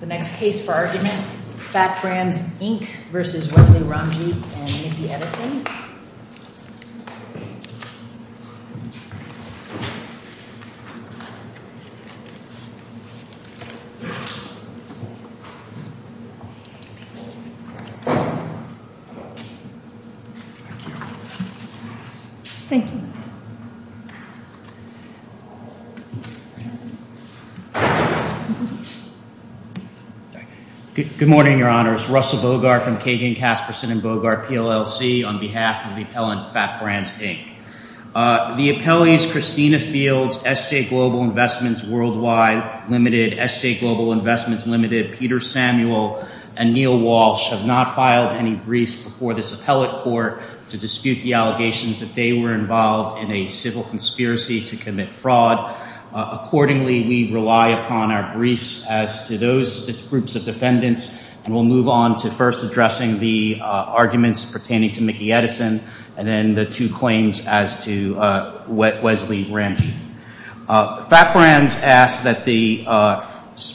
The next case for argument, FAT Brands Inc. v. Wesley Rumgeek and Nicky Edison. Good morning, Your Honors. Russell Bogart from Kagan, Kasperson & Bogart, PLLC on behalf of the appellant, FAT Brands Inc. The appellees Christina Fields, SJ Global Investments, Worldwide, Ltd., SJ Global Investments, Ltd., Peter Samuel, and Neil Walsh have not filed any briefs before this appellate court to dispute the allegations that they were involved in a civil conspiracy to commit fraud. Accordingly, we rely upon our briefs as to those groups of defendants, and we'll move on to first addressing the arguments pertaining to Nicky Edison and then the two claims as to Wesley Rumgeek. FAT Brands asks that the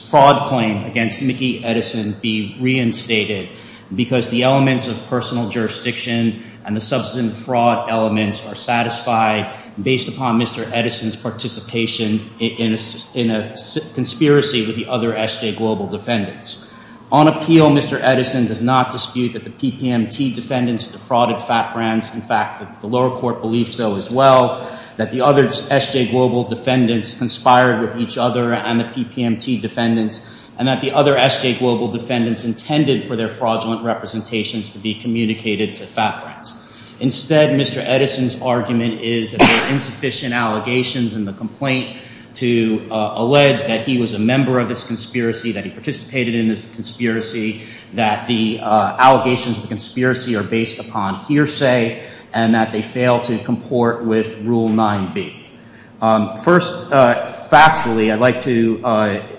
fraud claim against Nicky Edison be reinstated because the elements of personal jurisdiction and the substantive fraud elements are satisfied based upon Mr. Edison's participation in a conspiracy with the other SJ Global defendants. On appeal, Mr. Edison does not dispute that the PPMT defendants defrauded FAT Brands. In fact, the lower court believes so as well, that the other SJ Global defendants conspired with each other and the PPMT defendants, and that the other SJ Global defendants intended for their fraudulent representations to be communicated to FAT Brands. Instead, Mr. Edison's argument is that there are insufficient allegations in the complaint to allege that he was a member of this conspiracy, that he participated in this conspiracy, that the allegations of the conspiracy are based upon hearsay, and that they fail to comport with Rule 9b. First, factually, I'd like to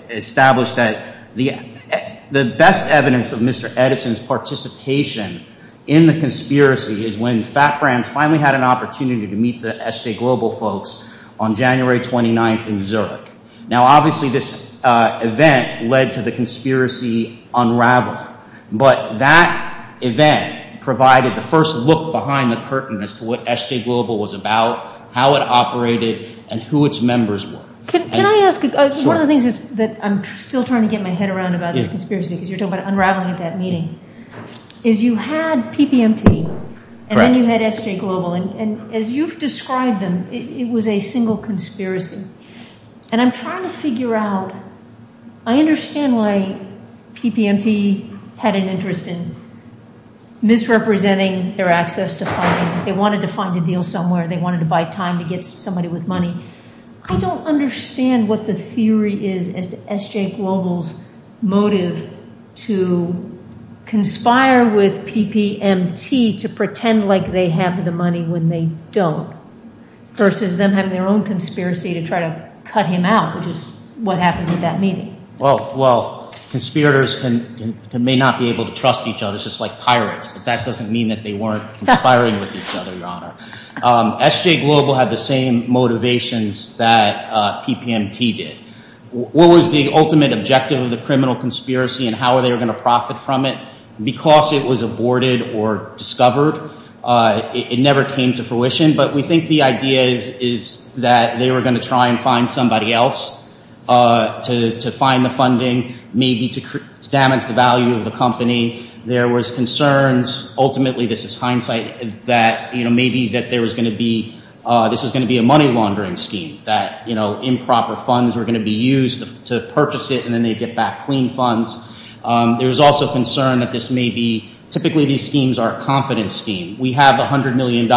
establish that the best evidence of Mr. Edison's participation in the conspiracy is when FAT Brands finally had an opportunity to meet the SJ Global folks on January 29th in Zurich. Now, obviously, this event led to the conspiracy unraveling, but that event provided the first look behind the curtain as to what SJ Global was about, how it operated, and who its members were. Can I ask, one of the things that I'm still trying to get my head around about this conspiracy, because you're talking about unraveling at that meeting, is you had PPMT and then you had SJ Global, and as you've described them, it was a single conspiracy. And I'm trying to figure out, I understand why PPMT had an interest in misrepresenting their access to funding. They wanted to find a deal somewhere. They wanted to buy time to get somebody with money. I don't understand what the theory is as to SJ Global's motive to conspire with PPMT to pretend like they have the money when they don't, versus them having their own conspiracy to try to cut him out, which is what happened at that meeting. Well, conspirators may not be able to trust each other, just like pirates, but that doesn't mean that they weren't conspiring with each other, Your Honor. SJ Global had the same motivations that PPMT did. What was the ultimate objective of the criminal conspiracy and how they were going to profit from it? Because it was aborted or discovered, it never came to fruition, but we think the idea is that they were going to try and find somebody else to find the funding, maybe to damage the value of the company. There was concerns, ultimately this is hindsight, that maybe this was going to be a money laundering scheme, that improper funds were going to be used to purchase it and then they'd get back clean funds. There was also concern that this may be – typically these schemes are a confidence scheme. We have $100 million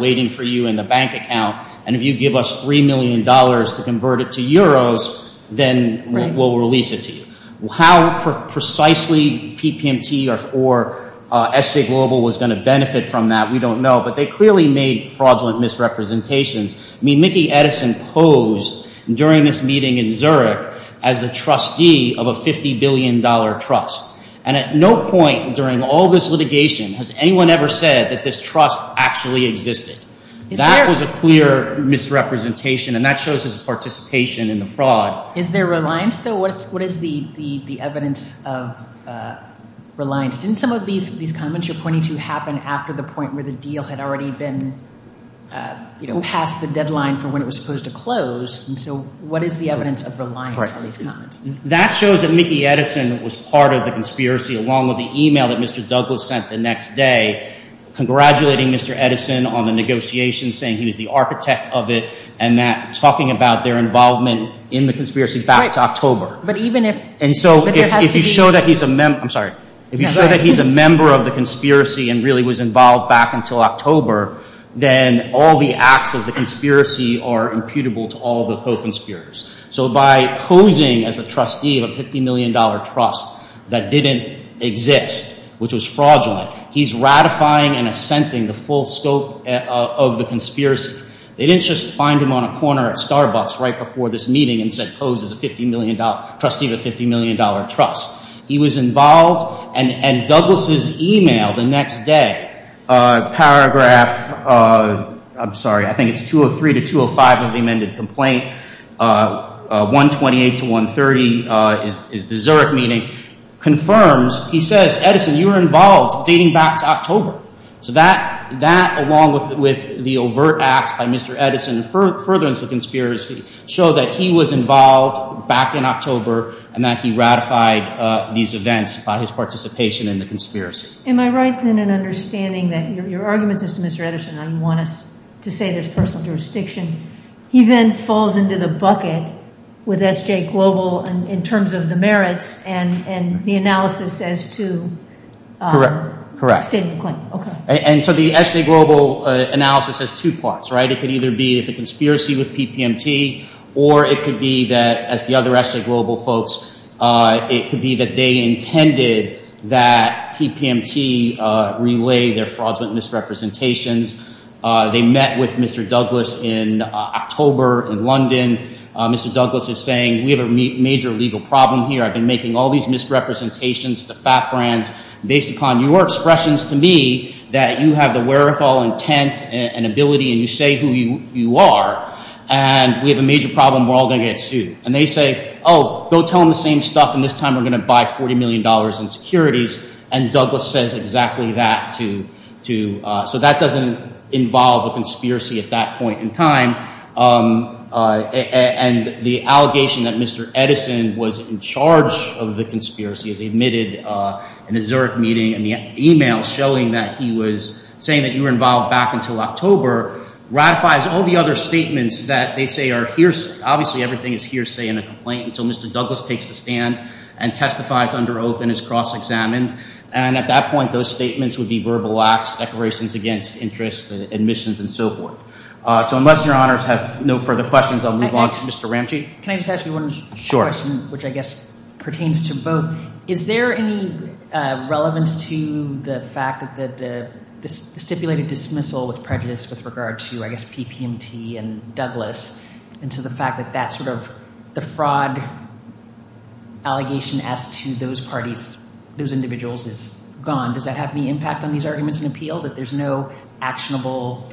waiting for you in the bank account, and if you give us $3 million to convert it to euros, then we'll release it to you. How precisely PPMT or SJ Global was going to benefit from that, we don't know, but they clearly made fraudulent misrepresentations. I mean Mickey Edison posed during this meeting in Zurich as the trustee of a $50 billion trust, and at no point during all this litigation has anyone ever said that this trust actually existed. That was a clear misrepresentation, and that shows his participation in the fraud. Is there reliance though? What is the evidence of reliance? Didn't some of these comments you're pointing to happen after the point where the deal had already been past the deadline for when it was supposed to close? And so what is the evidence of reliance on these comments? That shows that Mickey Edison was part of the conspiracy along with the email that Mr. Douglas sent the next day congratulating Mr. Edison on the negotiations, saying he was the architect of it and that – talking about their involvement in the conspiracy back to October. But even if – And so if you show that he's a – I'm sorry. If you show that he's a member of the conspiracy and really was involved back until October, then all the acts of the conspiracy are imputable to all the co-conspirators. So by posing as a trustee of a $50 million trust that didn't exist, which was fraudulent, he's ratifying and assenting the full scope of the conspiracy. They didn't just find him on a corner at Starbucks right before this meeting and said pose as a $50 million – trustee of a $50 million trust. He was involved, and Douglas' email the next day, paragraph – I'm sorry. I think it's 203 to 205 of the amended complaint, 128 to 130 is the Zurich meeting, confirms – he says, Edison, you were involved dating back to October. So that, along with the overt acts by Mr. Edison and furtherance of the conspiracy, show that he was involved back in October and that he ratified these events by his participation in the conspiracy. Am I right then in understanding that – your argument is to Mr. Edison. I don't want us to say there's personal jurisdiction. He then falls into the bucket with SJ Global in terms of the merits and the analysis as to – Correct. Correct. The statement claim. And so the SJ Global analysis has two parts, right? It could either be the conspiracy with PPMT or it could be that, as the other SJ Global folks, it could be that they intended that PPMT relay their fraudulent misrepresentations. They met with Mr. Douglas in October in London. Mr. Douglas is saying we have a major legal problem here. I've been making all these misrepresentations to fat brands based upon your expressions to me that you have the wherewithal, intent, and ability, and you say who you are, and we have a major problem. We're all going to get sued. And they say, oh, don't tell them the same stuff, and this time we're going to buy $40 million in securities. And Douglas says exactly that to – so that doesn't involve a conspiracy at that point in time. And the allegation that Mr. Edison was in charge of the conspiracy is admitted in the Zurich meeting, and the email showing that he was saying that you were involved back until October ratifies all the other statements that they say are hearsay. And at that point, those statements would be verbal acts, declarations against interest, admissions, and so forth. So unless your honors have no further questions, I'll move on to Mr. Ramsey. Can I just ask you one question, which I guess pertains to both? So is there any relevance to the fact that the stipulated dismissal of prejudice with regard to, I guess, PPMT and Douglas and to the fact that that sort of – the fraud allegation as to those parties, those individuals is gone. Does that have any impact on these arguments in appeal that there's no actionable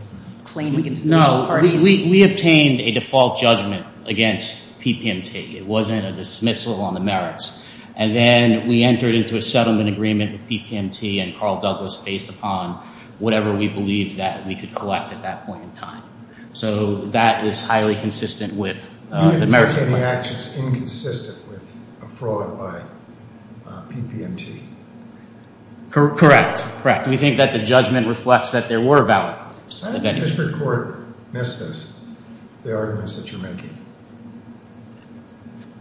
claim against those parties? No. We obtained a default judgment against PPMT. It wasn't a dismissal on the merits. And then we entered into a settlement agreement with PPMT and Carl Douglas based upon whatever we believed that we could collect at that point in time. So that is highly consistent with the merits of the claim. You mean to say that my action is inconsistent with a fraud by PPMT? Correct, correct. We think that the judgment reflects that there were valid claims. How did the district court miss this, the arguments that you're making?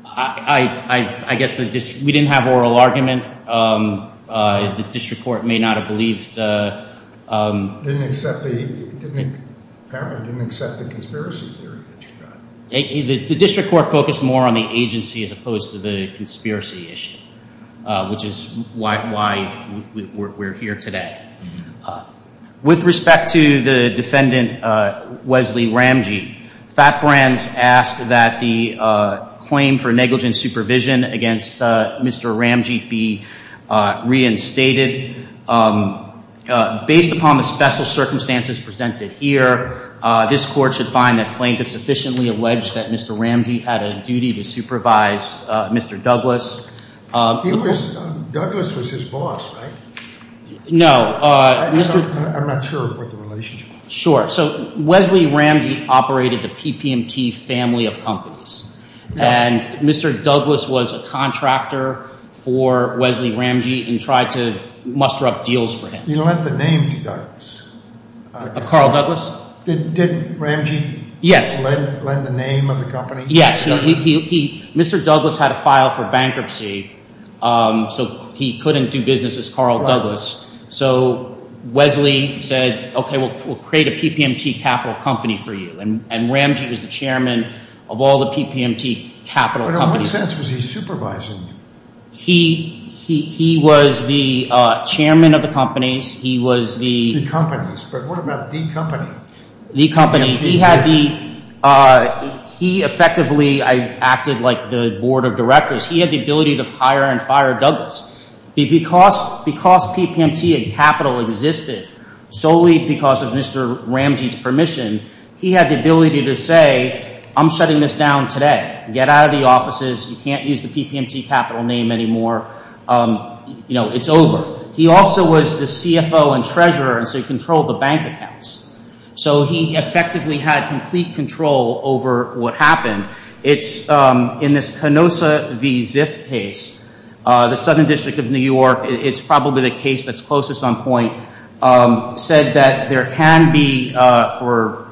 I guess we didn't have oral argument. The district court may not have believed – Didn't accept the – apparently didn't accept the conspiracy theory that you got. The district court focused more on the agency as opposed to the conspiracy issue, which is why we're here today. With respect to the defendant Wesley Ramgeet, FATBRANDS asked that the claim for negligent supervision against Mr. Ramgeet be reinstated. Based upon the special circumstances presented here, this court should find that claim to sufficiently allege that Mr. Ramgeet had a duty to supervise Mr. Douglas. He was – Douglas was his boss, right? No. I'm not sure about the relationship. Sure. So Wesley Ramgeet operated the PPMT family of companies. And Mr. Douglas was a contractor for Wesley Ramgeet and tried to muster up deals for him. You lent the name to Douglas. Carl Douglas? Did Ramgeet lend the name of the company? Mr. Douglas had a file for bankruptcy, so he couldn't do business as Carl Douglas. So Wesley said, okay, we'll create a PPMT capital company for you, and Ramgeet was the chairman of all the PPMT capital companies. But in what sense was he supervising you? He was the chairman of the companies. He was the – The companies, but what about the company? The company, he had the – he effectively acted like the board of directors. He had the ability to hire and fire Douglas. Because PPMT and capital existed solely because of Mr. Ramgeet's permission, he had the ability to say, I'm shutting this down today. Get out of the offices. You can't use the PPMT capital name anymore. It's over. He also was the CFO and treasurer, and so he controlled the bank accounts. So he effectively had complete control over what happened. It's in this Canosa v. Ziff case, the Southern District of New York, it's probably the case that's closest on point, said that there can be for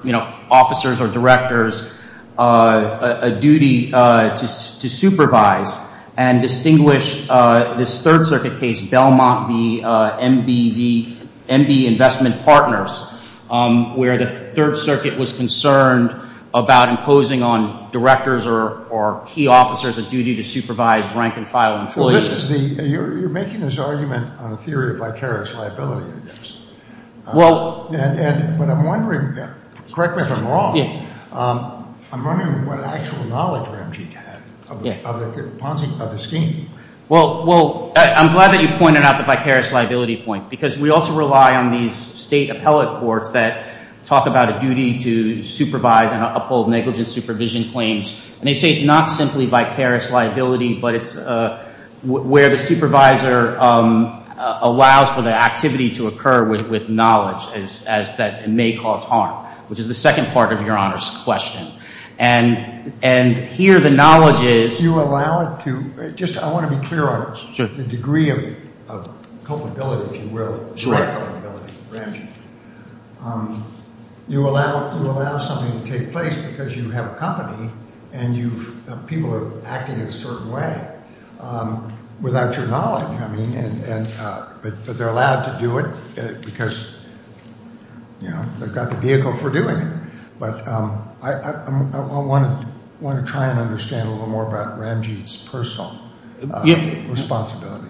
officers or directors a duty to supervise and distinguish this Third Circuit case, Belmont v. MB, the MB investment partners, where the Third Circuit was concerned about imposing on directors or key officers a duty to supervise, rank and file employees. So this is the – you're making this argument on a theory of vicarious liability, I guess. Well – But I'm wondering – correct me if I'm wrong – Yeah. I'm wondering what actual knowledge Ramgeet had of the Ponzi – of the scheme. Well, I'm glad that you pointed out the vicarious liability point because we also rely on these state appellate courts that talk about a duty to supervise and uphold negligent supervision claims. And they say it's not simply vicarious liability, but it's where the supervisor allows for the activity to occur with knowledge as that it may cause harm, which is the second part of Your Honor's question. And here the knowledge is – You allow it to – just I want to be clear on it. Sure. The degree of culpability, if you will. Sure. Culpability, Ramgeet. You allow something to take place because you have a company and you've – people are acting in a certain way without your knowledge. I mean, and – but they're allowed to do it because, you know, they've got the vehicle for doing it. But I want to try and understand a little more about Ramgeet's personal responsibility.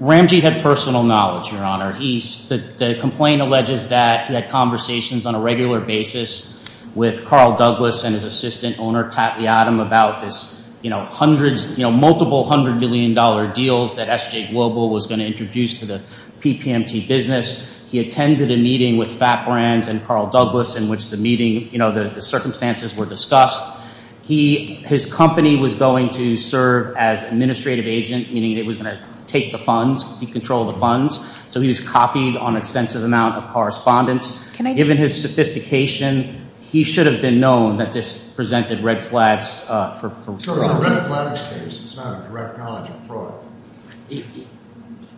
Ramgeet had personal knowledge, Your Honor. He – the complaint alleges that he had conversations on a regular basis with Carl Douglas and his assistant owner, Tatley Adam, about this, you know, hundreds – you know, multiple $100 million deals that SJ Global was going to introduce to the PPMT business. He attended a meeting with Fat Brands and Carl Douglas in which the meeting – you know, the circumstances were discussed. He – his company was going to serve as administrative agent, meaning it was going to take the funds. He controlled the funds. So he was copied on extensive amount of correspondence. Can I just – Given his sophistication, he should have been known that this presented red flags for fraud. It's a red flag case. It's not a direct knowledge of fraud.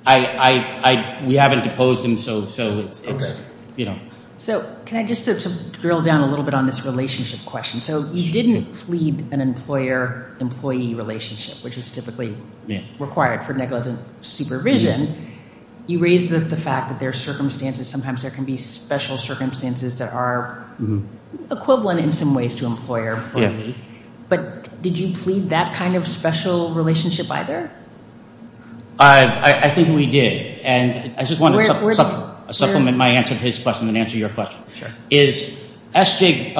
I – we haven't deposed him, so it's, you know. So can I just drill down a little bit on this relationship question? So you didn't plead an employer-employee relationship, which is typically required for negligent supervision. You raised the fact that there are circumstances – sometimes there can be special circumstances that are equivalent in some ways to employer-employee. But did you plead that kind of special relationship either? I think we did. And I just wanted to supplement my answer to his question and answer your question. Sure. Is – SJ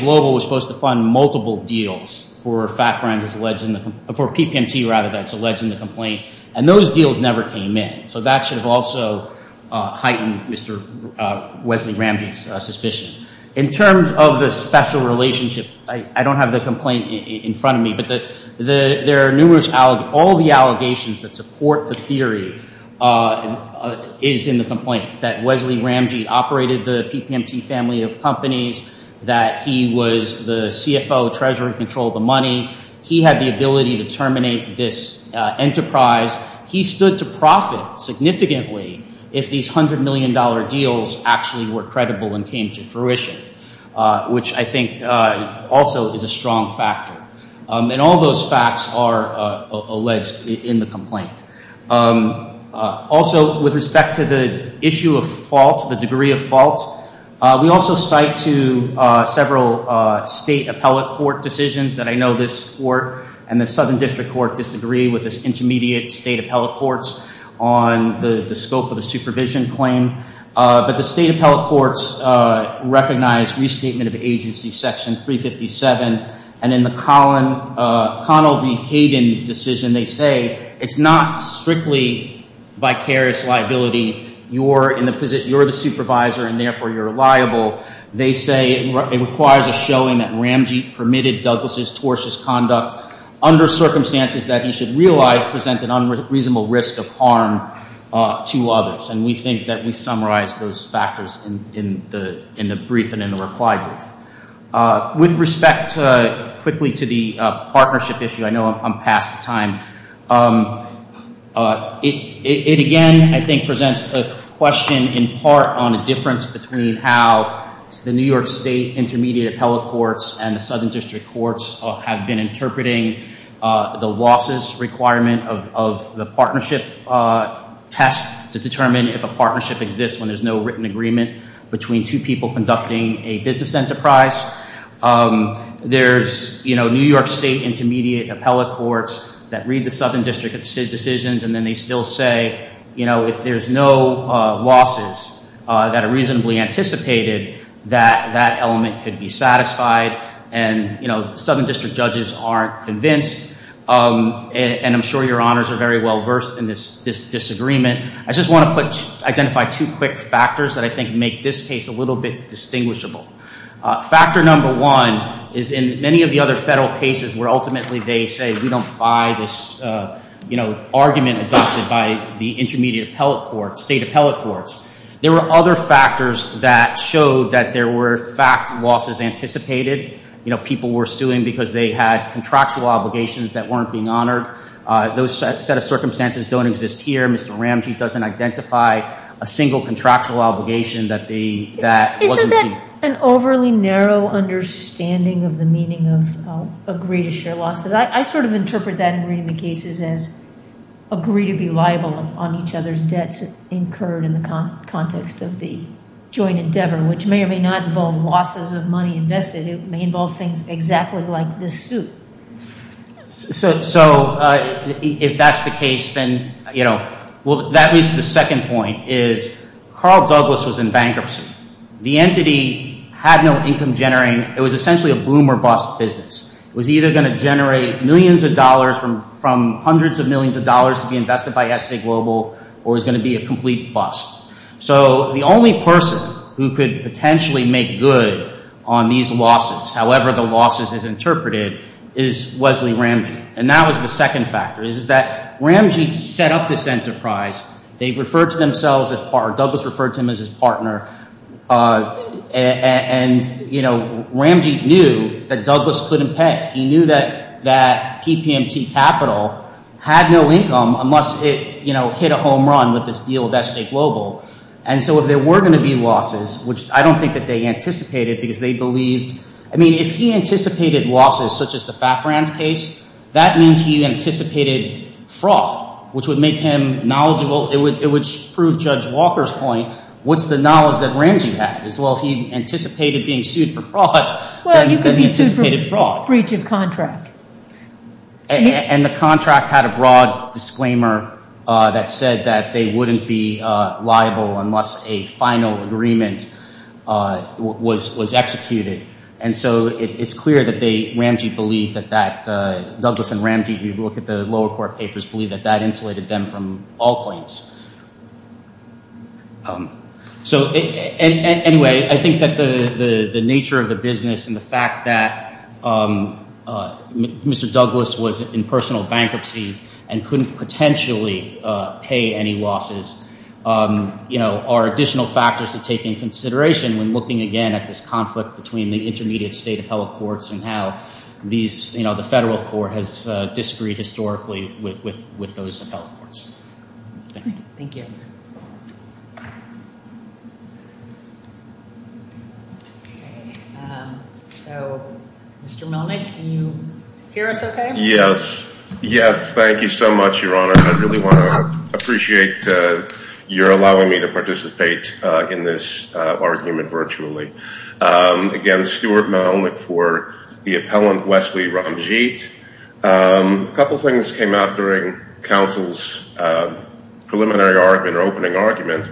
Global was supposed to fund multiple deals for Fat Brands as alleged in the – for PPMT, rather, that's alleged in the complaint. And those deals never came in. So that should have also heightened Mr. Wesley Ramsey's suspicion. In terms of the special relationship, I don't have the complaint in front of me. But there are numerous – all the allegations that support the theory is in the complaint, that Wesley Ramsey operated the PPMT family of companies, that he was the CFO, treasurer in control of the money. He had the ability to terminate this enterprise. He stood to profit significantly if these $100 million deals actually were credible and came to fruition, which I think also is a strong factor. And all those facts are alleged in the complaint. Also, with respect to the issue of fault, the degree of fault, we also cite to several state appellate court decisions that I know this court and the Southern District Court disagree with this intermediate state appellate courts on the scope of the supervision claim. But the state appellate courts recognize restatement of agency section 357. And in the Connell v. Hayden decision, they say it's not strictly vicarious liability. You're in the – you're the supervisor, and therefore, you're liable. They say it requires a showing that Ramsey permitted Douglas's tortious conduct under circumstances that he should realize present an unreasonable risk of harm to others. And we think that we summarize those factors in the brief and in the reply brief. With respect quickly to the partnership issue, I know I'm past the time. It again, I think, presents a question in part on the difference between how the New York State Intermediate Appellate Courts and the Southern District Courts have been interpreting the losses requirement of the partnership test to determine if a partnership exists when there's no written agreement between two people conducting a business enterprise. There's, you know, New York State Intermediate Appellate Courts that read the Southern District decisions, and then they still say, you know, if there's no losses that are reasonably anticipated, that that element could be satisfied. And, you know, Southern District judges aren't convinced. And I'm sure your honors are very well versed in this disagreement. I just want to identify two quick factors that I think make this case a little bit distinguishable. Factor number one is in many of the other federal cases where ultimately they say we don't buy this, you know, argument adopted by the Intermediate Appellate Courts, State Appellate Courts. There were other factors that showed that there were fact losses anticipated. You know, people were suing because they had contractual obligations that weren't being honored. Those set of circumstances don't exist here. Mr. Ramsey doesn't identify a single contractual obligation that they, that wasn't being honored. I have an overly narrow understanding of the meaning of agree to share losses. I sort of interpret that in reading the cases as agree to be liable on each other's debts incurred in the context of the joint endeavor, which may or may not involve losses of money invested. It may involve things exactly like this suit. So if that's the case, then, you know, well, that leads to the second point is Carl Douglas was in bankruptcy. The entity had no income generating. It was essentially a boom or bust business. It was either going to generate millions of dollars from hundreds of millions of dollars to be invested by S.J. Global or it was going to be a complete bust. So the only person who could potentially make good on these losses, however the losses is interpreted, is Wesley Ramsey. And that was the second factor is that Ramsey set up this enterprise. They referred to themselves, or Douglas referred to him as his partner. And, you know, Ramsey knew that Douglas couldn't pay. He knew that PPMT Capital had no income unless it, you know, hit a home run with this deal with S.J. Global. And so if there were going to be losses, which I don't think that they anticipated because they believed – I mean if he anticipated losses such as the FAPRAN's case, that means he anticipated fraud, which would make him knowledgeable. It would prove Judge Walker's point. What's the knowledge that Ramsey had is, well, if he anticipated being sued for fraud, then he anticipated fraud. Well, you could be sued for breach of contract. And the contract had a broad disclaimer that said that they wouldn't be liable unless a final agreement was executed. And so it's clear that they – Ramsey believed that that – Douglas and Ramsey, if you look at the lower court papers, believed that that insulated them from all claims. So anyway, I think that the nature of the business and the fact that Mr. Douglas was in personal bankruptcy and couldn't potentially pay any losses, you know, are additional factors to take into consideration when looking again at this conflict between the intermediate state appellate courts and how these – you know, the federal court has disagreed historically with those appellate courts. Thank you. Thank you. Okay. So Mr. Milnick, can you hear us okay? Yes. Yes. Thank you so much, Your Honor. I really want to appreciate your allowing me to participate in this argument virtually. Again, Stuart Milnick for the appellant, Wesley Ramjeet. A couple things came out during counsel's preliminary argument or opening argument.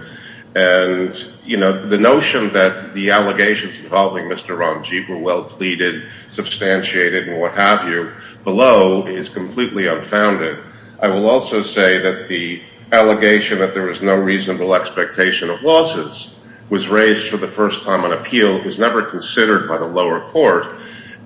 And, you know, the notion that the allegations involving Mr. Ramjeet were well pleaded, substantiated, and what have you below is completely unfounded. I will also say that the allegation that there was no reasonable expectation of losses was raised for the first time on appeal. It was never considered by the lower court.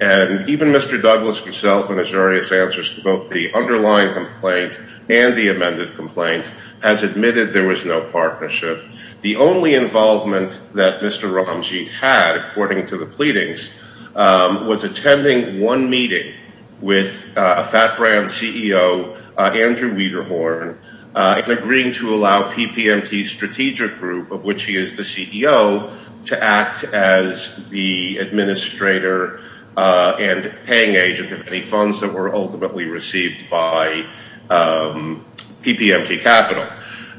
And even Mr. Douglas himself and his various answers to both the underlying complaint and the amended complaint has admitted there was no partnership. The only involvement that Mr. Ramjeet had, according to the pleadings, was attending one meeting with a fat brand CEO, Andrew Wiederhorn, agreeing to allow PPMT Strategic Group, of which he is the CEO, to act as the administrator and paying agent of any funds that were ultimately received by PPMT Capital.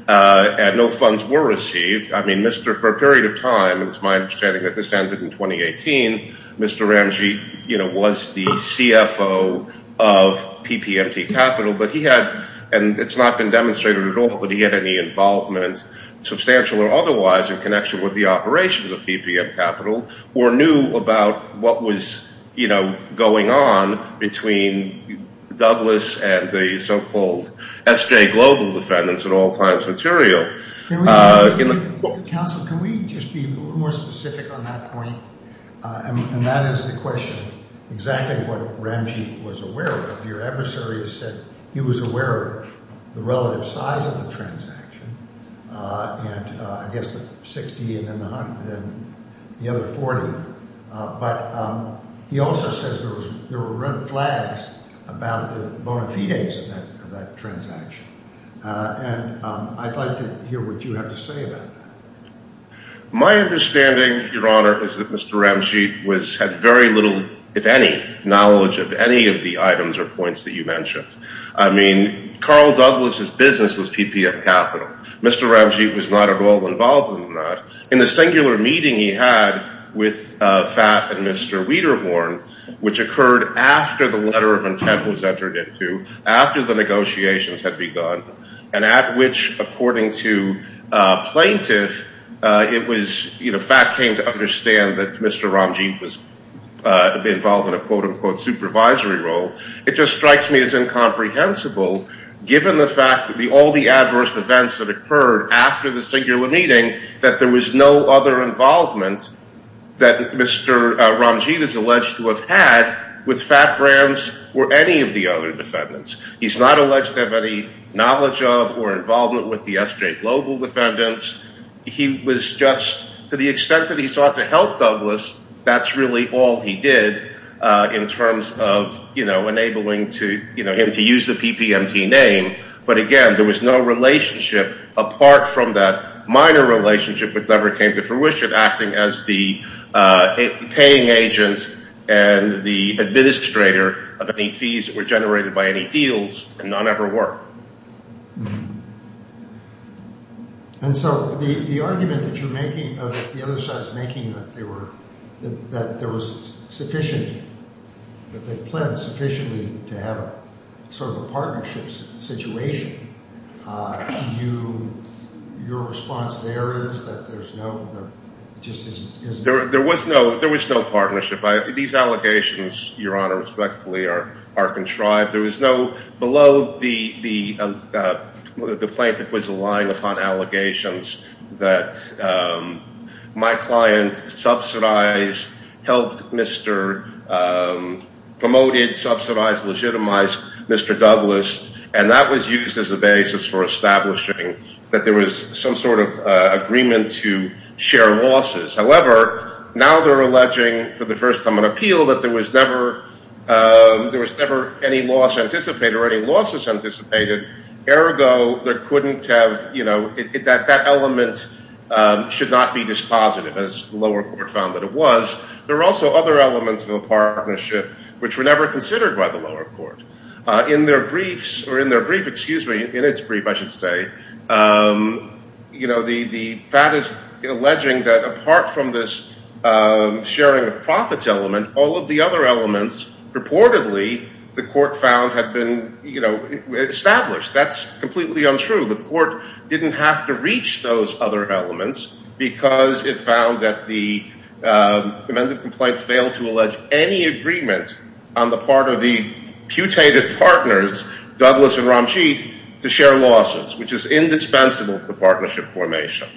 And no funds were received. I mean, for a period of time, it's my understanding that this ended in 2018, Mr. Ramjeet was the CFO of PPMT Capital. And it's not been demonstrated at all that he had any involvement, substantial or otherwise, in connection with the operations of PPMT Capital or knew about what was, you know, going on between Douglas and the so-called SJ Global defendants at all times material. Counsel, can we just be a little more specific on that point? And that is the question, exactly what Ramjeet was aware of. Your adversary has said he was aware of the relative size of the transaction, and I guess the 60 and then the other 40. But he also says there were red flags about the bona fides of that transaction. And I'd like to hear what you have to say about that. My understanding, Your Honor, is that Mr. Ramjeet had very little, if any, knowledge of any of the items or points that you mentioned. I mean, Carl Douglas' business was PPMT Capital. Mr. Ramjeet was not at all involved in that. In the singular meeting he had with Phat and Mr. Wiederhorn, which occurred after the letter of intent was entered into, after the negotiations had begun, and at which, according to plaintiff, it was, you know, Phat came to understand that Mr. Ramjeet was involved in a quote-unquote supervisory role. It just strikes me as incomprehensible, given the fact that all the adverse events that occurred after the singular meeting, that there was no other involvement that Mr. Ramjeet is alleged to have had with Phat Ram's or any of the other defendants. He's not alleged to have any knowledge of or involvement with the SJ Global defendants. He was just – to the extent that he sought to help Douglas, that's really all he did in terms of, you know, enabling him to use the PPMT name. But again, there was no relationship apart from that minor relationship which never came to fruition, acting as the paying agent and the administrator of any fees that were generated by any deals, and none ever were. And so the argument that you're making of the other side's making that they were – that there was sufficient – that they planned sufficiently to have sort of a partnership situation, your response there is that there's no – there just isn't – There was no – there was no partnership. These allegations, Your Honor, respectfully are contrived. There was no – below the plaintiff was a line upon allegations that my client subsidized, helped Mr. – promoted, subsidized, legitimized Mr. Douglas, and that was used as a basis for establishing that there was some sort of agreement to share losses. However, now they're alleging for the first time in appeal that there was never – there was never any loss anticipated or any losses anticipated. Ergo, there couldn't have – that element should not be dispositive as the lower court found that it was. There were also other elements of the partnership which were never considered by the lower court. In their briefs – or in their brief – excuse me, in its brief, I should say, the fact is alleging that apart from this sharing of profits element, all of the other elements reportedly the court found had been established. That's completely untrue. The court didn't have to reach those other elements because it found that the amended complaint failed to allege any agreement on the part of the putative partners, Douglas and Ramjeet, to share losses, which is indispensable to the partnership formation.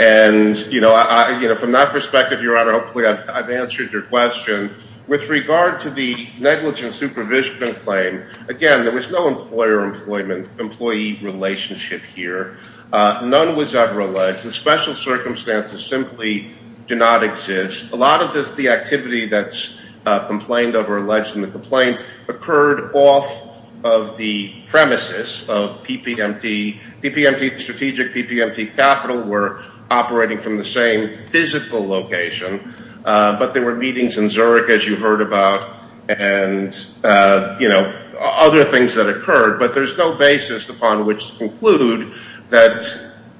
And from that perspective, Your Honor, hopefully I've answered your question. With regard to the negligent supervision claim, again, there was no employer-employee relationship here. None was ever alleged. The special circumstances simply do not exist. A lot of the activity that's complained of or alleged in the complaint occurred off of the premises of PPMT. PPMT Strategic, PPMT Capital were operating from the same physical location, but there were meetings in Zurich, as you heard about, and other things that occurred. But there's no basis upon which to conclude that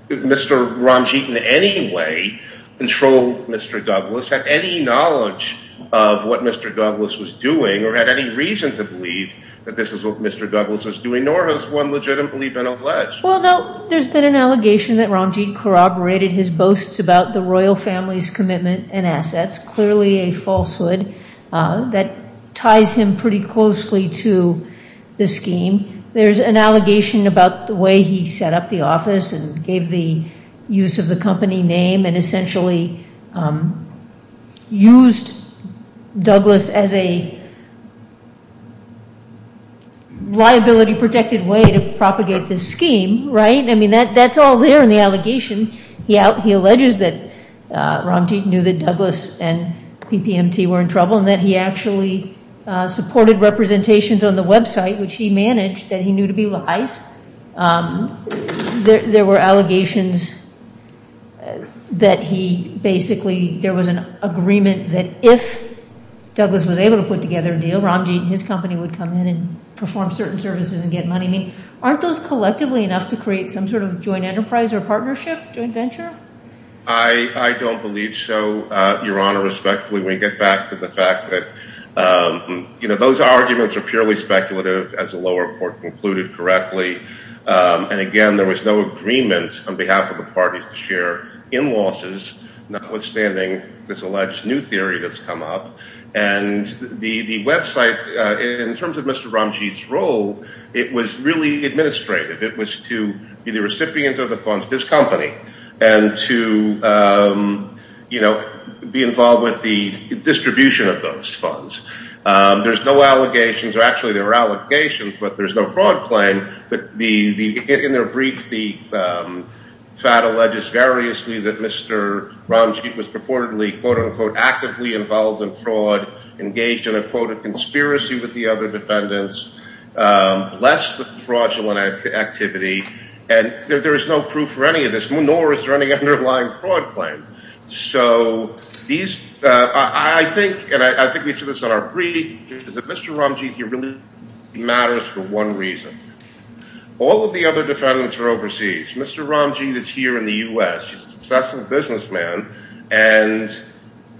Mr. Ramjeet in any way controlled Mr. Douglas, had any knowledge of what Mr. Douglas was doing, or had any reason to believe that this is what Mr. Douglas was doing, nor has one legitimately been alleged. Well, no, there's been an allegation that Ramjeet corroborated his boasts about the royal family's commitment and assets, clearly a falsehood that ties him pretty closely to the scheme. There's an allegation about the way he set up the office and gave the use of the company name and essentially used Douglas as a liability-protected way to propagate this scheme, right? There were allegations that he basically, there was an agreement that if Douglas was able to put together a deal, Ramjeet and his company would come in and perform certain services and get money. Aren't those collectively enough to create some sort of joint enterprise or partnership, joint venture? I don't believe so, Your Honor. Respectfully, we get back to the fact that those arguments are purely speculative, as the lower court concluded correctly. And again, there was no agreement on behalf of the parties to share in losses, notwithstanding this alleged new theory that's come up. And the website, in terms of Mr. Ramjeet's role, it was really administrative. It was to be the recipient of the funds of this company and to be involved with the distribution of those funds. There's no allegations, or actually there were allegations, but there's no fraud claim. But in their brief, the FAT alleges variously that Mr. Ramjeet was purportedly, quote-unquote, actively involved in fraud, engaged in a, quote, a conspiracy with the other defendants, less fraudulent activity. And there is no proof for any of this, nor is there any underlying fraud claim. So these – I think, and I think we've said this in our brief, is that Mr. Ramjeet really matters for one reason. All of the other defendants are overseas. Mr. Ramjeet is here in the U.S. He's a successful businessman and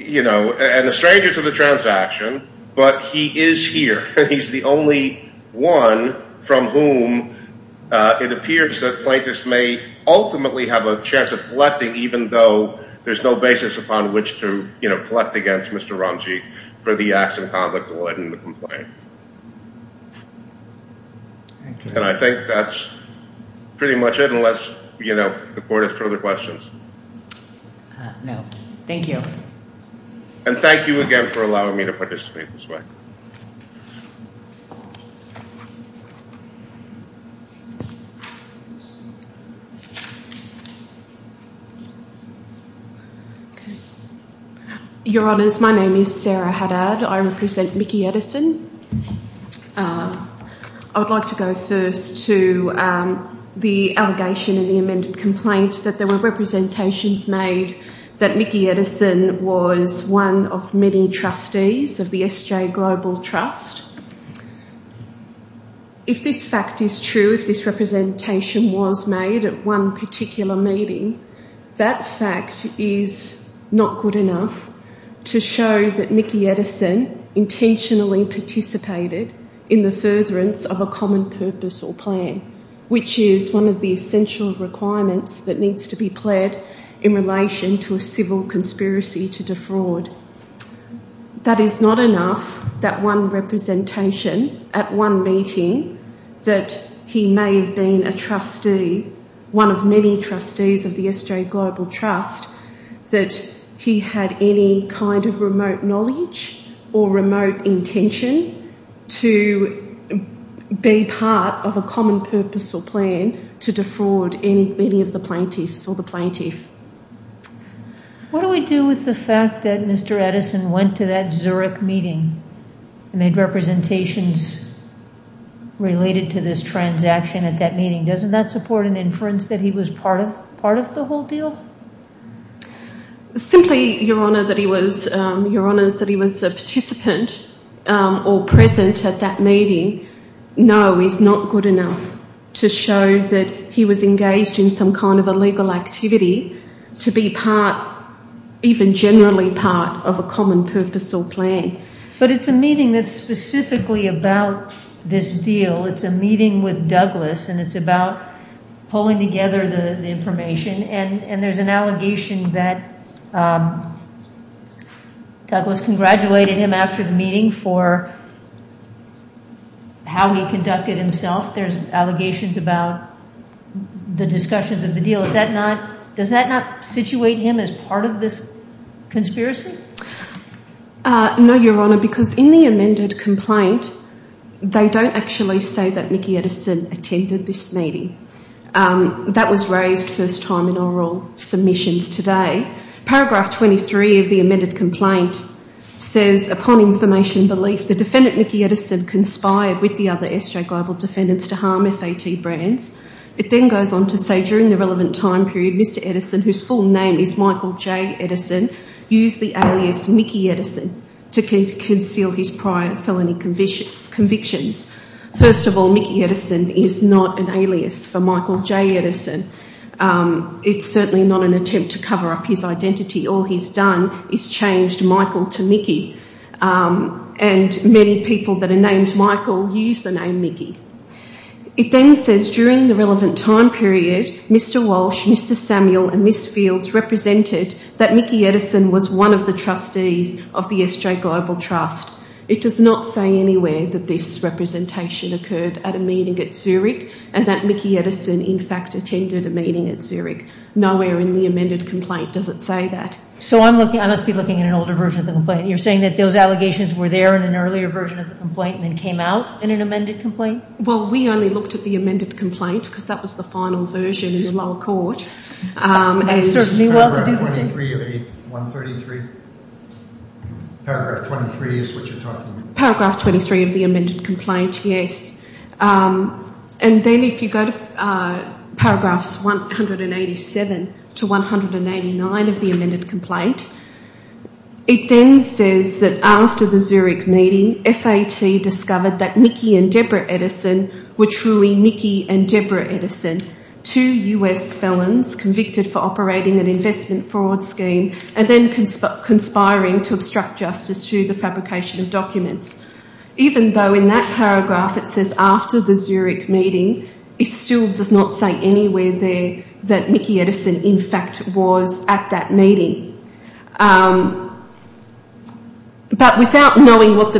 a stranger to the transaction, but he is here. And he's the only one from whom it appears that plaintiffs may ultimately have a chance of collecting, even though there's no basis upon which to, you know, collect against Mr. Ramjeet for the acts of conduct allowed in the complaint. And I think that's pretty much it, unless, you know, the court has further questions. No. Thank you. And thank you again for allowing me to participate this way. If this fact is true, if this representation was made at one particular meeting, that fact is not good enough to show that Mickey Edison intentionally participated in the furtherance of a common purpose or plan, which is one of the essential requirements that needs to be pled in relation to a civil conspiracy to defraud. That is not enough, that one representation at one meeting, that he may have been a trustee, one of many trustees of the SJ Global Trust, that he had any kind of remote knowledge or remote intention to be part of a common purpose or plan to defraud any of the plaintiffs or the plaintiff. What do we do with the fact that Mr. Edison went to that Zurich meeting and made representations related to this transaction at that meeting? Doesn't that support an inference that he was part of the whole deal? Simply, Your Honour, that he was a participant or present at that meeting, no, is not good enough to show that he was engaged in some kind of a legal activity to be part, even generally part, of a common purpose or plan. But it's a meeting that's specifically about this deal. It's a meeting with Douglas and it's about pulling together the information and there's an allegation that Douglas congratulated him after the meeting for how he conducted himself. There's allegations about the discussions of the deal. Does that not situate him as part of this conspiracy? No, Your Honour, because in the amended complaint, they don't actually say that Mickey Edison attended this meeting. That was raised first time in oral submissions today. Paragraph 23 of the amended complaint says, Upon information and belief, the defendant Mickey Edison conspired with the other SJ Global defendants to harm FAT brands. It then goes on to say, during the relevant time period, Mr. Edison, whose full name is Michael J. Edison, used the alias Mickey Edison to conceal his prior felony convictions. First of all, Mickey Edison is not an alias for Michael J. Edison. It's certainly not an attempt to cover up his identity. All he's done is changed Michael to Mickey. And many people that are named Michael use the name Mickey. It then says, during the relevant time period, Mr. Walsh, Mr. Samuel and Ms. Fields represented that Mickey Edison was one of the trustees of the SJ Global Trust. It does not say anywhere that this representation occurred at a meeting at Zurich and that Mickey Edison in fact attended a meeting at Zurich. Nowhere in the amended complaint does it say that. So I must be looking at an older version of the complaint. You're saying that those allegations were there in an earlier version of the complaint and then came out in an amended complaint? Well, we only looked at the amended complaint because that was the final version in the lower court. Paragraph 23 of the 133? Paragraph 23 is what you're talking about? Paragraph 23 of the amended complaint, yes. And then if you go to paragraphs 187 to 189 of the amended complaint, it then says that after the Zurich meeting, FAT discovered that Mickey and Deborah Edison were truly Mickey and Deborah Edison. Two US felons convicted for operating an investment fraud scheme and then conspiring to obstruct justice through the fabrication of documents. Even though in that paragraph it says after the Zurich meeting, it still does not say anywhere there that Mickey Edison in fact was at that meeting. But without knowing what the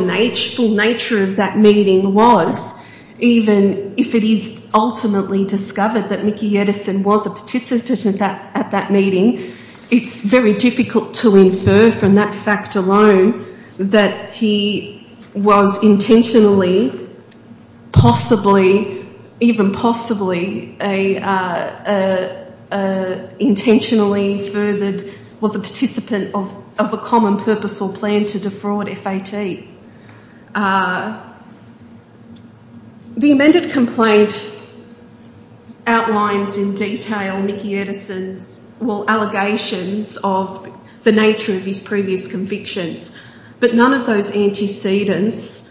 full nature of that meeting was, even if it is ultimately discovered that Mickey Edison was a participant at that meeting, it's very difficult to infer from that fact alone that he was intentionally, possibly, even possibly, intentionally furthered, was a participant of a common purpose or plan to defraud FAT. The amended complaint outlines in detail Mickey Edison's allegations of the nature of his previous convictions. But none of those antecedents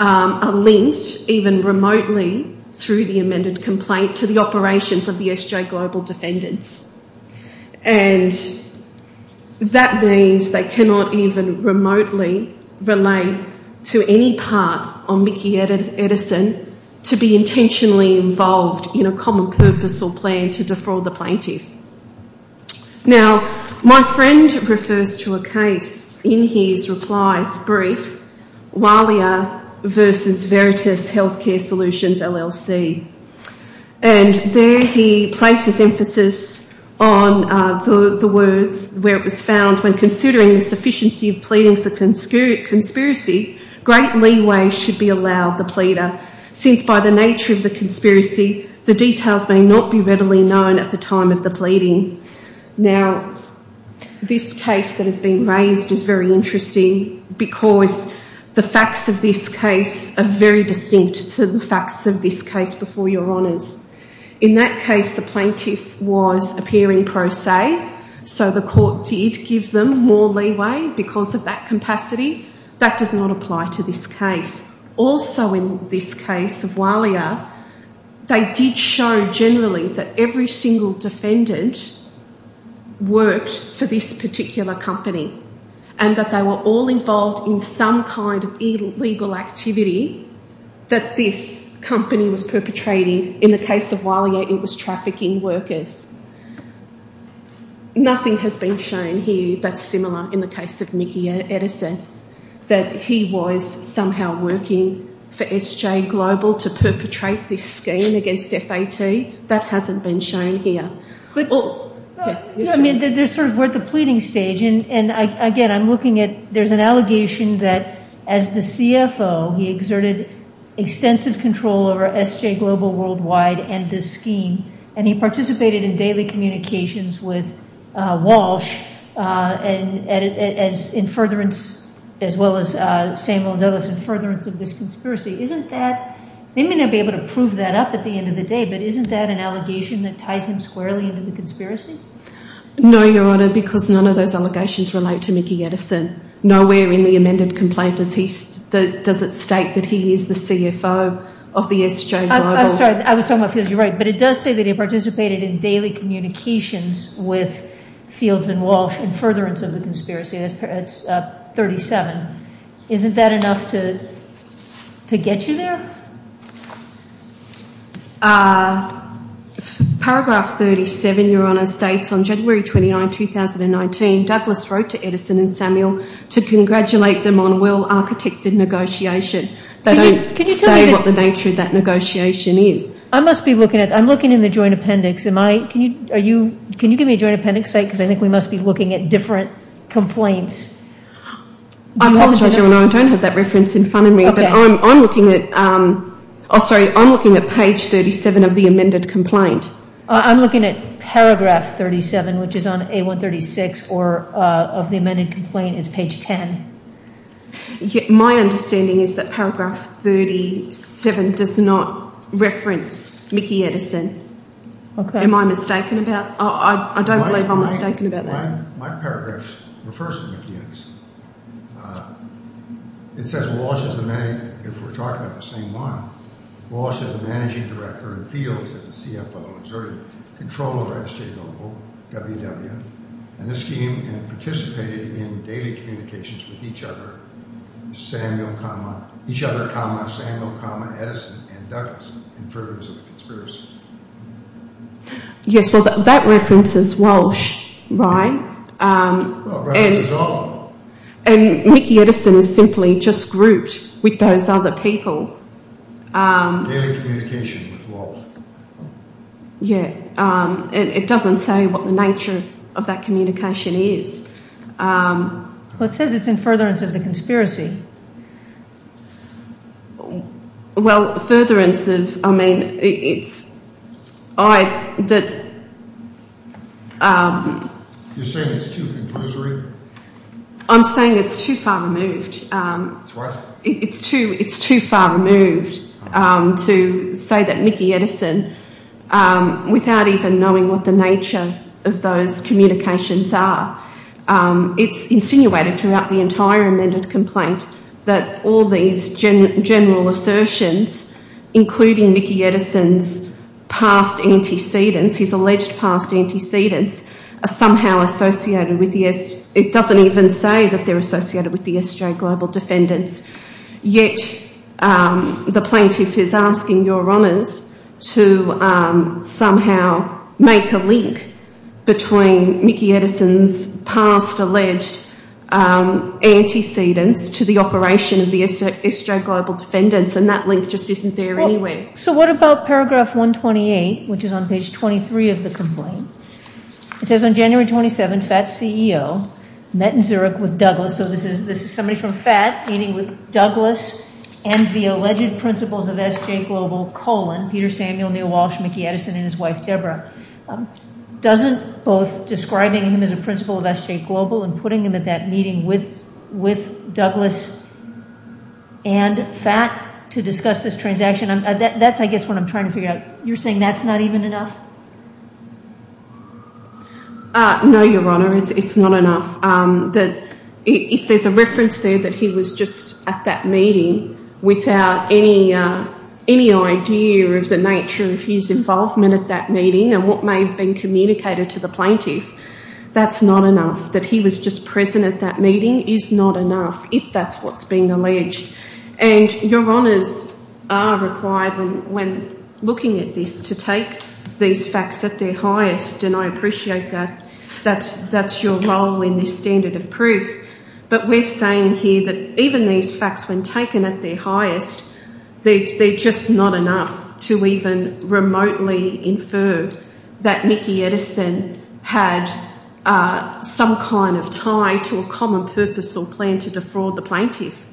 are linked even remotely through the amended complaint to the operations of the SJ Global Defendants. And that means they cannot even remotely relate to any part of Mickey Edison to be intentionally involved in a common purpose or plan to defraud the plaintiff. Now, my friend refers to a case in his reply brief, Walia versus Veritas Healthcare Solutions LLC. And there he places emphasis on the words where it was found, when considering the sufficiency of pleadings of conspiracy, great leeway should be allowed the pleader, since by the nature of the conspiracy, the details may not be readily known at the time of the pleading. Now, this case that has been raised is very interesting because the facts of this case are very distinct to the facts of this case before your Honours. In that case, the plaintiff was appearing pro se, so the court did give them more leeway because of that capacity. That does not apply to this case. Also in this case of Walia, they did show generally that every single defendant worked for this particular company. And that they were all involved in some kind of illegal activity that this company was perpetrating. In the case of Walia, it was trafficking workers. Nothing has been shown here that's similar in the case of Mickey Edison. That he was somehow working for SJ Global to perpetrate this scheme against FAT. That hasn't been shown here. I mean, they're sort of at the pleading stage. And again, I'm looking at, there's an allegation that as the CFO, he exerted extensive control over SJ Global worldwide and this scheme. And he participated in daily communications with Walsh, as well as Samuel Douglas, in furtherance of this conspiracy. Isn't that, they may not be able to prove that up at the end of the day, but isn't that an allegation that ties him squarely into the conspiracy? No, Your Honour, because none of those allegations relate to Mickey Edison. Nowhere in the amended complaint does it state that he is the CFO of the SJ Global. I'm sorry, I was talking about Fields. You're right. But it does say that he participated in daily communications with Fields and Walsh in furtherance of the conspiracy. That's 37. Isn't that enough to get you there? Paragraph 37, Your Honour, states, On January 29, 2019, Douglas wrote to Edison and Samuel to congratulate them on well-architected negotiation. They don't say what the nature of that negotiation is. I must be looking at, I'm looking in the joint appendix. Can you give me a joint appendix, because I think we must be looking at different complaints. I apologize, Your Honour, I don't have that reference in front of me, but I'm looking at page 37 of the amended complaint. I'm looking at paragraph 37, which is on A136 of the amended complaint. It's page 10. My understanding is that paragraph 37 does not reference Mickey Edison. Am I mistaken about that? I don't believe I'm mistaken about that. My paragraph refers to Mickey Edison. It says Walsh is the managing, if we're talking about the same one, Walsh is the managing director in Fields as a CFO, exerted control over SJ Global, WW, and this scheme, and participated in daily communications with each other, Samuel, Edison and Douglas, in furtherance of the conspiracy. Yes, well that reference is Walsh, right? Well, reference is Walsh. And Mickey Edison is simply just grouped with those other people. Daily communication with Walsh. Yes, it doesn't say what the nature of that communication is. Well, it says it's in furtherance of the conspiracy. Well, furtherance of, I mean, it's, I, that, You're saying it's too conclusory? I'm saying it's too far removed. It's what? It's too far removed to say that Mickey Edison, without even knowing what the nature of those communications are, it's insinuated throughout the entire amended complaint that all these general assertions, including Mickey Edison's past antecedents, his alleged past antecedents, are somehow associated with the, it doesn't even say that they're associated with the SJ Global defendants, yet the plaintiff is asking Your Honours to somehow make a link between Mickey Edison's past alleged antecedents to the operation of the SJ Global defendants, and that link just isn't there anyway. So what about paragraph 128, which is on page 23 of the complaint? It says, On January 27, FAT's CEO met in Zurich with Douglas, so this is somebody from FAT meeting with Douglas and the alleged principals of SJ Global, Peter Samuel, Neil Walsh, Mickey Edison, and his wife Deborah, doesn't both describing him as a principal of SJ Global and putting him at that meeting with Douglas and FAT to discuss this transaction, that's I guess what I'm trying to figure out. You're saying that's not even enough? No, Your Honour, it's not enough. If there's a reference there that he was just at that meeting without any idea of the nature of his involvement at that meeting, and what may have been communicated to the plaintiff, that's not enough. That he was just present at that meeting is not enough, if that's what's being alleged. And Your Honours are required, when looking at this, to take these facts at their highest, and I appreciate that that's your role in this standard of proof, but we're saying here that even these facts, when taken at their highest, they're just not enough to even remotely infer that Mickey Edison had some kind of tie to a common purpose or plan to defraud the plaintiff.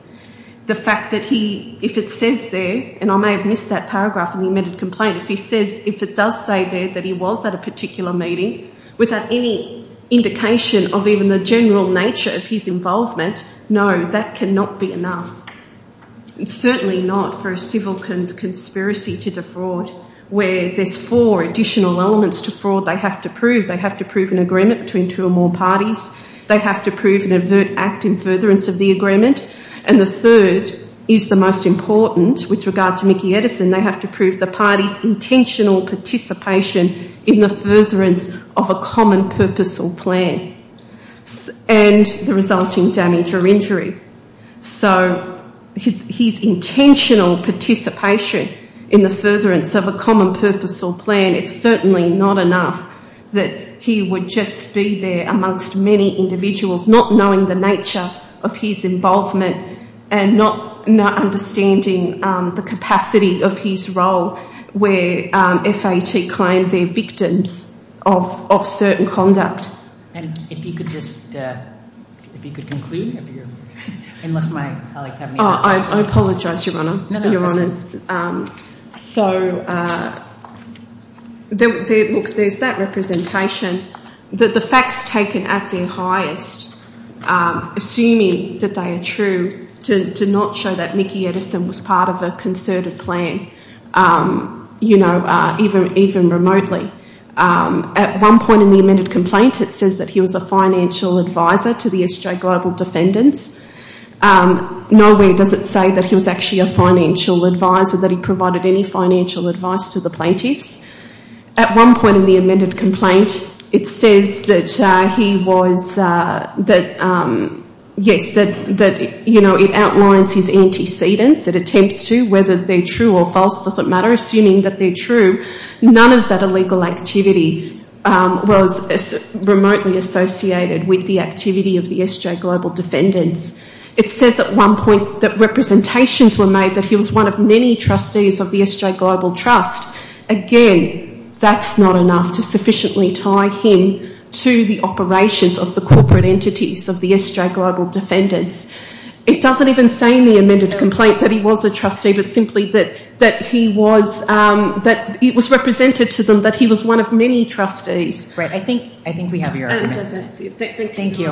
The fact that he, if it says there, and I may have missed that paragraph in the amended complaint, if he says, if it does say there that he was at a particular meeting, without any indication of even the general nature of his involvement, no, that cannot be enough. Certainly not for a civil conspiracy to defraud, where there's four additional elements to fraud they have to prove. They have to prove an agreement between two or more parties, they have to prove an avert act in furtherance of the agreement, and the third is the most important, with regard to Mickey Edison, they have to prove the party's intentional participation in the furtherance of a common purpose or plan, and the resulting damage or injury. So his intentional participation in the furtherance of a common purpose or plan, it's certainly not enough that he would just be there amongst many individuals, not knowing the nature of his involvement, and not understanding the capacity of his role, where FAT claimed they're victims of certain conduct. And if you could just, if you could conclude, unless my colleagues have any other questions. I apologise, Your Honour, Your Honours. So, look, there's that representation, that the facts taken at their highest, assuming that they are true, do not show that Mickey Edison was part of a concerted plan, you know, even remotely. At one point in the amended complaint, it says that he was a financial advisor to the SJ Global defendants. Nowhere does it say that he was actually a financial advisor, that he provided any financial advice to the plaintiffs. At one point in the amended complaint, it says that he was, that, yes, that, you know, it outlines his antecedents, it attempts to, whether they're true or false doesn't matter, assuming that they're true, none of that illegal activity was remotely associated with the activity of the SJ Global defendants. It says at one point that representations were made that he was one of many trustees of the SJ Global Trust. Again, that's not enough to sufficiently tie him to the operations of the corporate entities of the SJ Global defendants. It doesn't even say in the amended complaint that he was a trustee, but simply that he was, that it was represented to them that he was one of many trustees. Right, I think we have your argument. Thank you.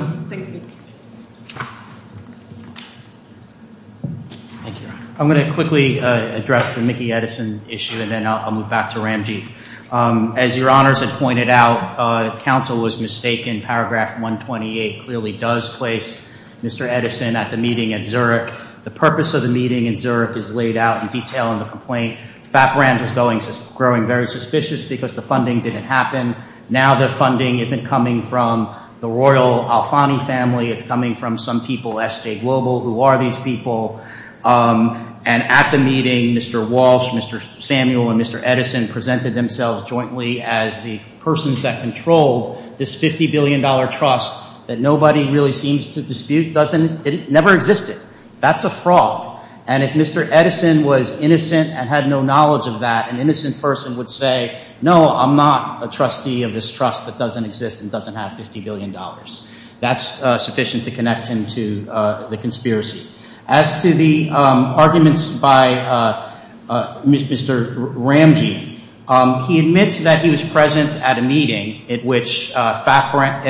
I'm going to quickly address the Mickey Edison issue and then I'll move back to Ramji. As your honors had pointed out, counsel was mistaken. Paragraph 128 clearly does place Mr. Edison at the meeting at Zurich. The purpose of the meeting in Zurich is laid out in detail in the complaint. FAPRAN was growing very suspicious because the funding didn't happen. Now the funding isn't coming from the Royal Alfani family. It's coming from some people, SJ Global, who are these people. And at the meeting, Mr. Walsh, Mr. Samuel, and Mr. Edison presented themselves jointly as the persons that controlled this $50 billion trust that nobody really seems to dispute. It never existed. That's a fraud. And if Mr. Edison was innocent and had no knowledge of that, an innocent person would say, no, I'm not a trustee of this trust that doesn't exist and doesn't have $50 billion. That's sufficient to connect him to the conspiracy. Now let's get to the arguments by Mr. Ramji. He admits that he was present at a meeting at which FAPRAN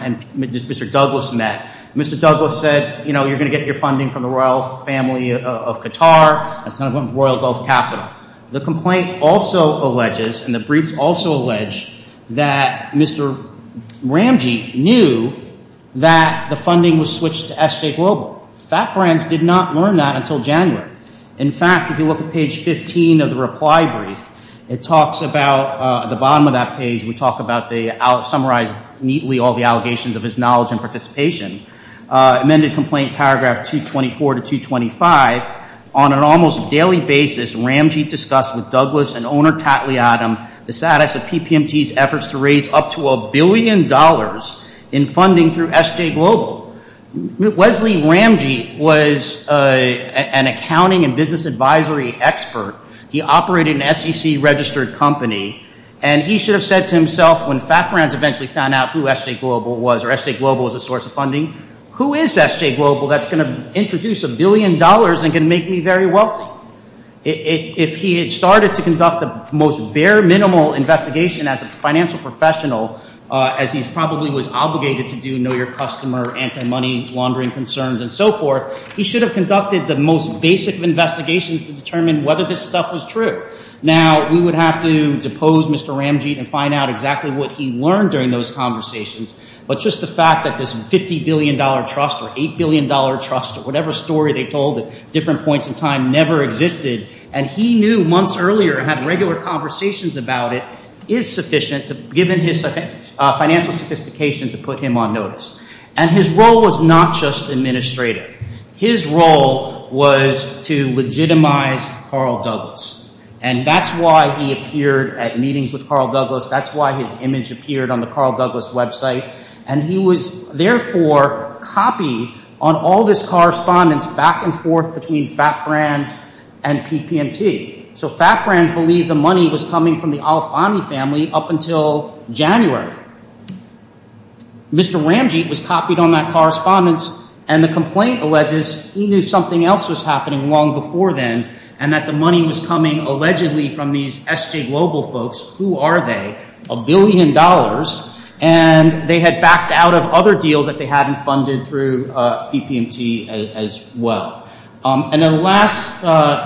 and Mr. Douglas met. Mr. Douglas said, you know, you're going to get your funding from the Royal family of Qatar. That's kind of going to Royal Gulf Capital. The complaint also alleges, and the briefs also allege, that Mr. Ramji knew that the funding was switched to SJ Global. And did not learn that until January. In fact, if you look at page 15 of the reply brief, it talks about, at the bottom of that page, we talk about the, it summarizes neatly all the allegations of his knowledge and participation. Amended complaint paragraph 224 to 225, on an almost daily basis, Ramji discussed with Douglas and owner Tatley Adam the status of PPMT's efforts to raise up to a billion dollars in funding through SJ Global. Wesley Ramji was an accounting and business advisory expert. He operated an SEC registered company. And he should have said to himself, when FAPRAN eventually found out who SJ Global was, or SJ Global was a source of funding, who is SJ Global that's going to introduce a billion dollars and can make me very wealthy? If he had started to conduct the most bare minimal investigation as a financial professional, as he probably was obligated to do, know your customer, anti-money laundering concerns, and so forth, he should have conducted the most basic of investigations to determine whether this stuff was true. Now, we would have to depose Mr. Ramji and find out exactly what he learned during those conversations. But just the fact that this $50 billion trust, or $8 billion trust, or whatever story they told at different points in time, never existed. And he knew months earlier, and had regular conversations about it, that this amount is sufficient, given his financial sophistication, to put him on notice. And his role was not just administrative. His role was to legitimize Carl Douglas. And that's why he appeared at meetings with Carl Douglas. That's why his image appeared on the Carl Douglas website. And he was, therefore, copy on all this correspondence back and forth between FAPRANs and PPMT. So FAPRANs believed the money was coming from the Alfani family up until January. Mr. Ramji was copied on that correspondence, and the complaint alleges he knew something else was happening long before then, and that the money was coming, allegedly, from these SJ Global folks. Who are they? A billion dollars. And they had backed out of other deals that they hadn't funded through PPMT as well. And the last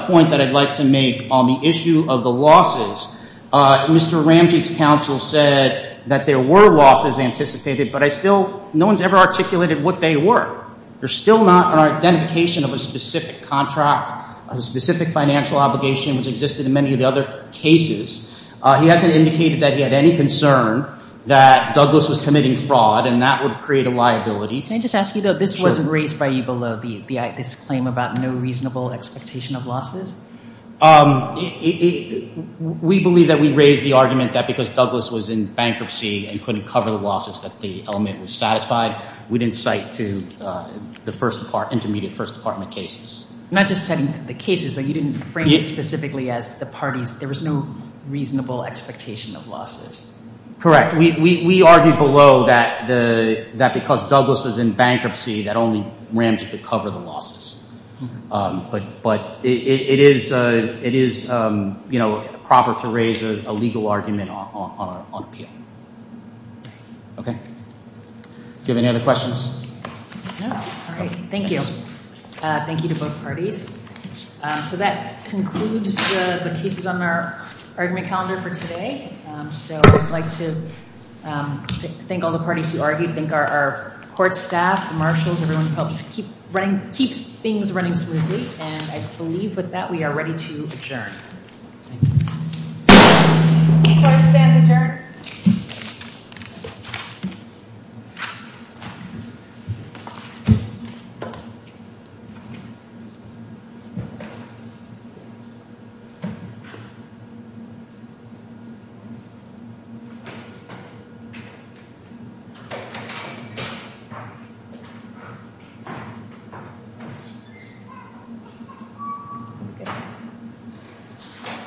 point that I'd like to make on the issue of the losses, Mr. Ramji's counsel said that there were losses anticipated, but I still, no one's ever articulated what they were. There's still not an identification of a specific contract, a specific financial obligation, which existed in many of the other cases. He hasn't indicated that he had any concern that Douglas was committing fraud, and that would create a liability. Can I just ask you, though, this wasn't raised by you below, this claim about no reasonable expectation of losses? We believe that we raised the argument that because Douglas was in bankruptcy and couldn't cover the losses, that the element was satisfied. We didn't cite to the first part, intermediate first department cases. Not just setting the cases, you didn't frame it specifically as the parties. There was no reasonable expectation of losses. Correct. We argued below that because Douglas was in bankruptcy, that only Ramji could cover the losses. But it is proper to raise a legal argument on appeal. Okay. Do you have any other questions? No. All right. Thank you. Thank you to both parties. So that concludes the cases on our argument calendar for today. So I'd like to thank all the parties who argued, thank our court staff, marshals, everyone who helps keep things running smoothly. And I believe with that, we are ready to adjourn. Thank you. Court is adjourned. Thank you.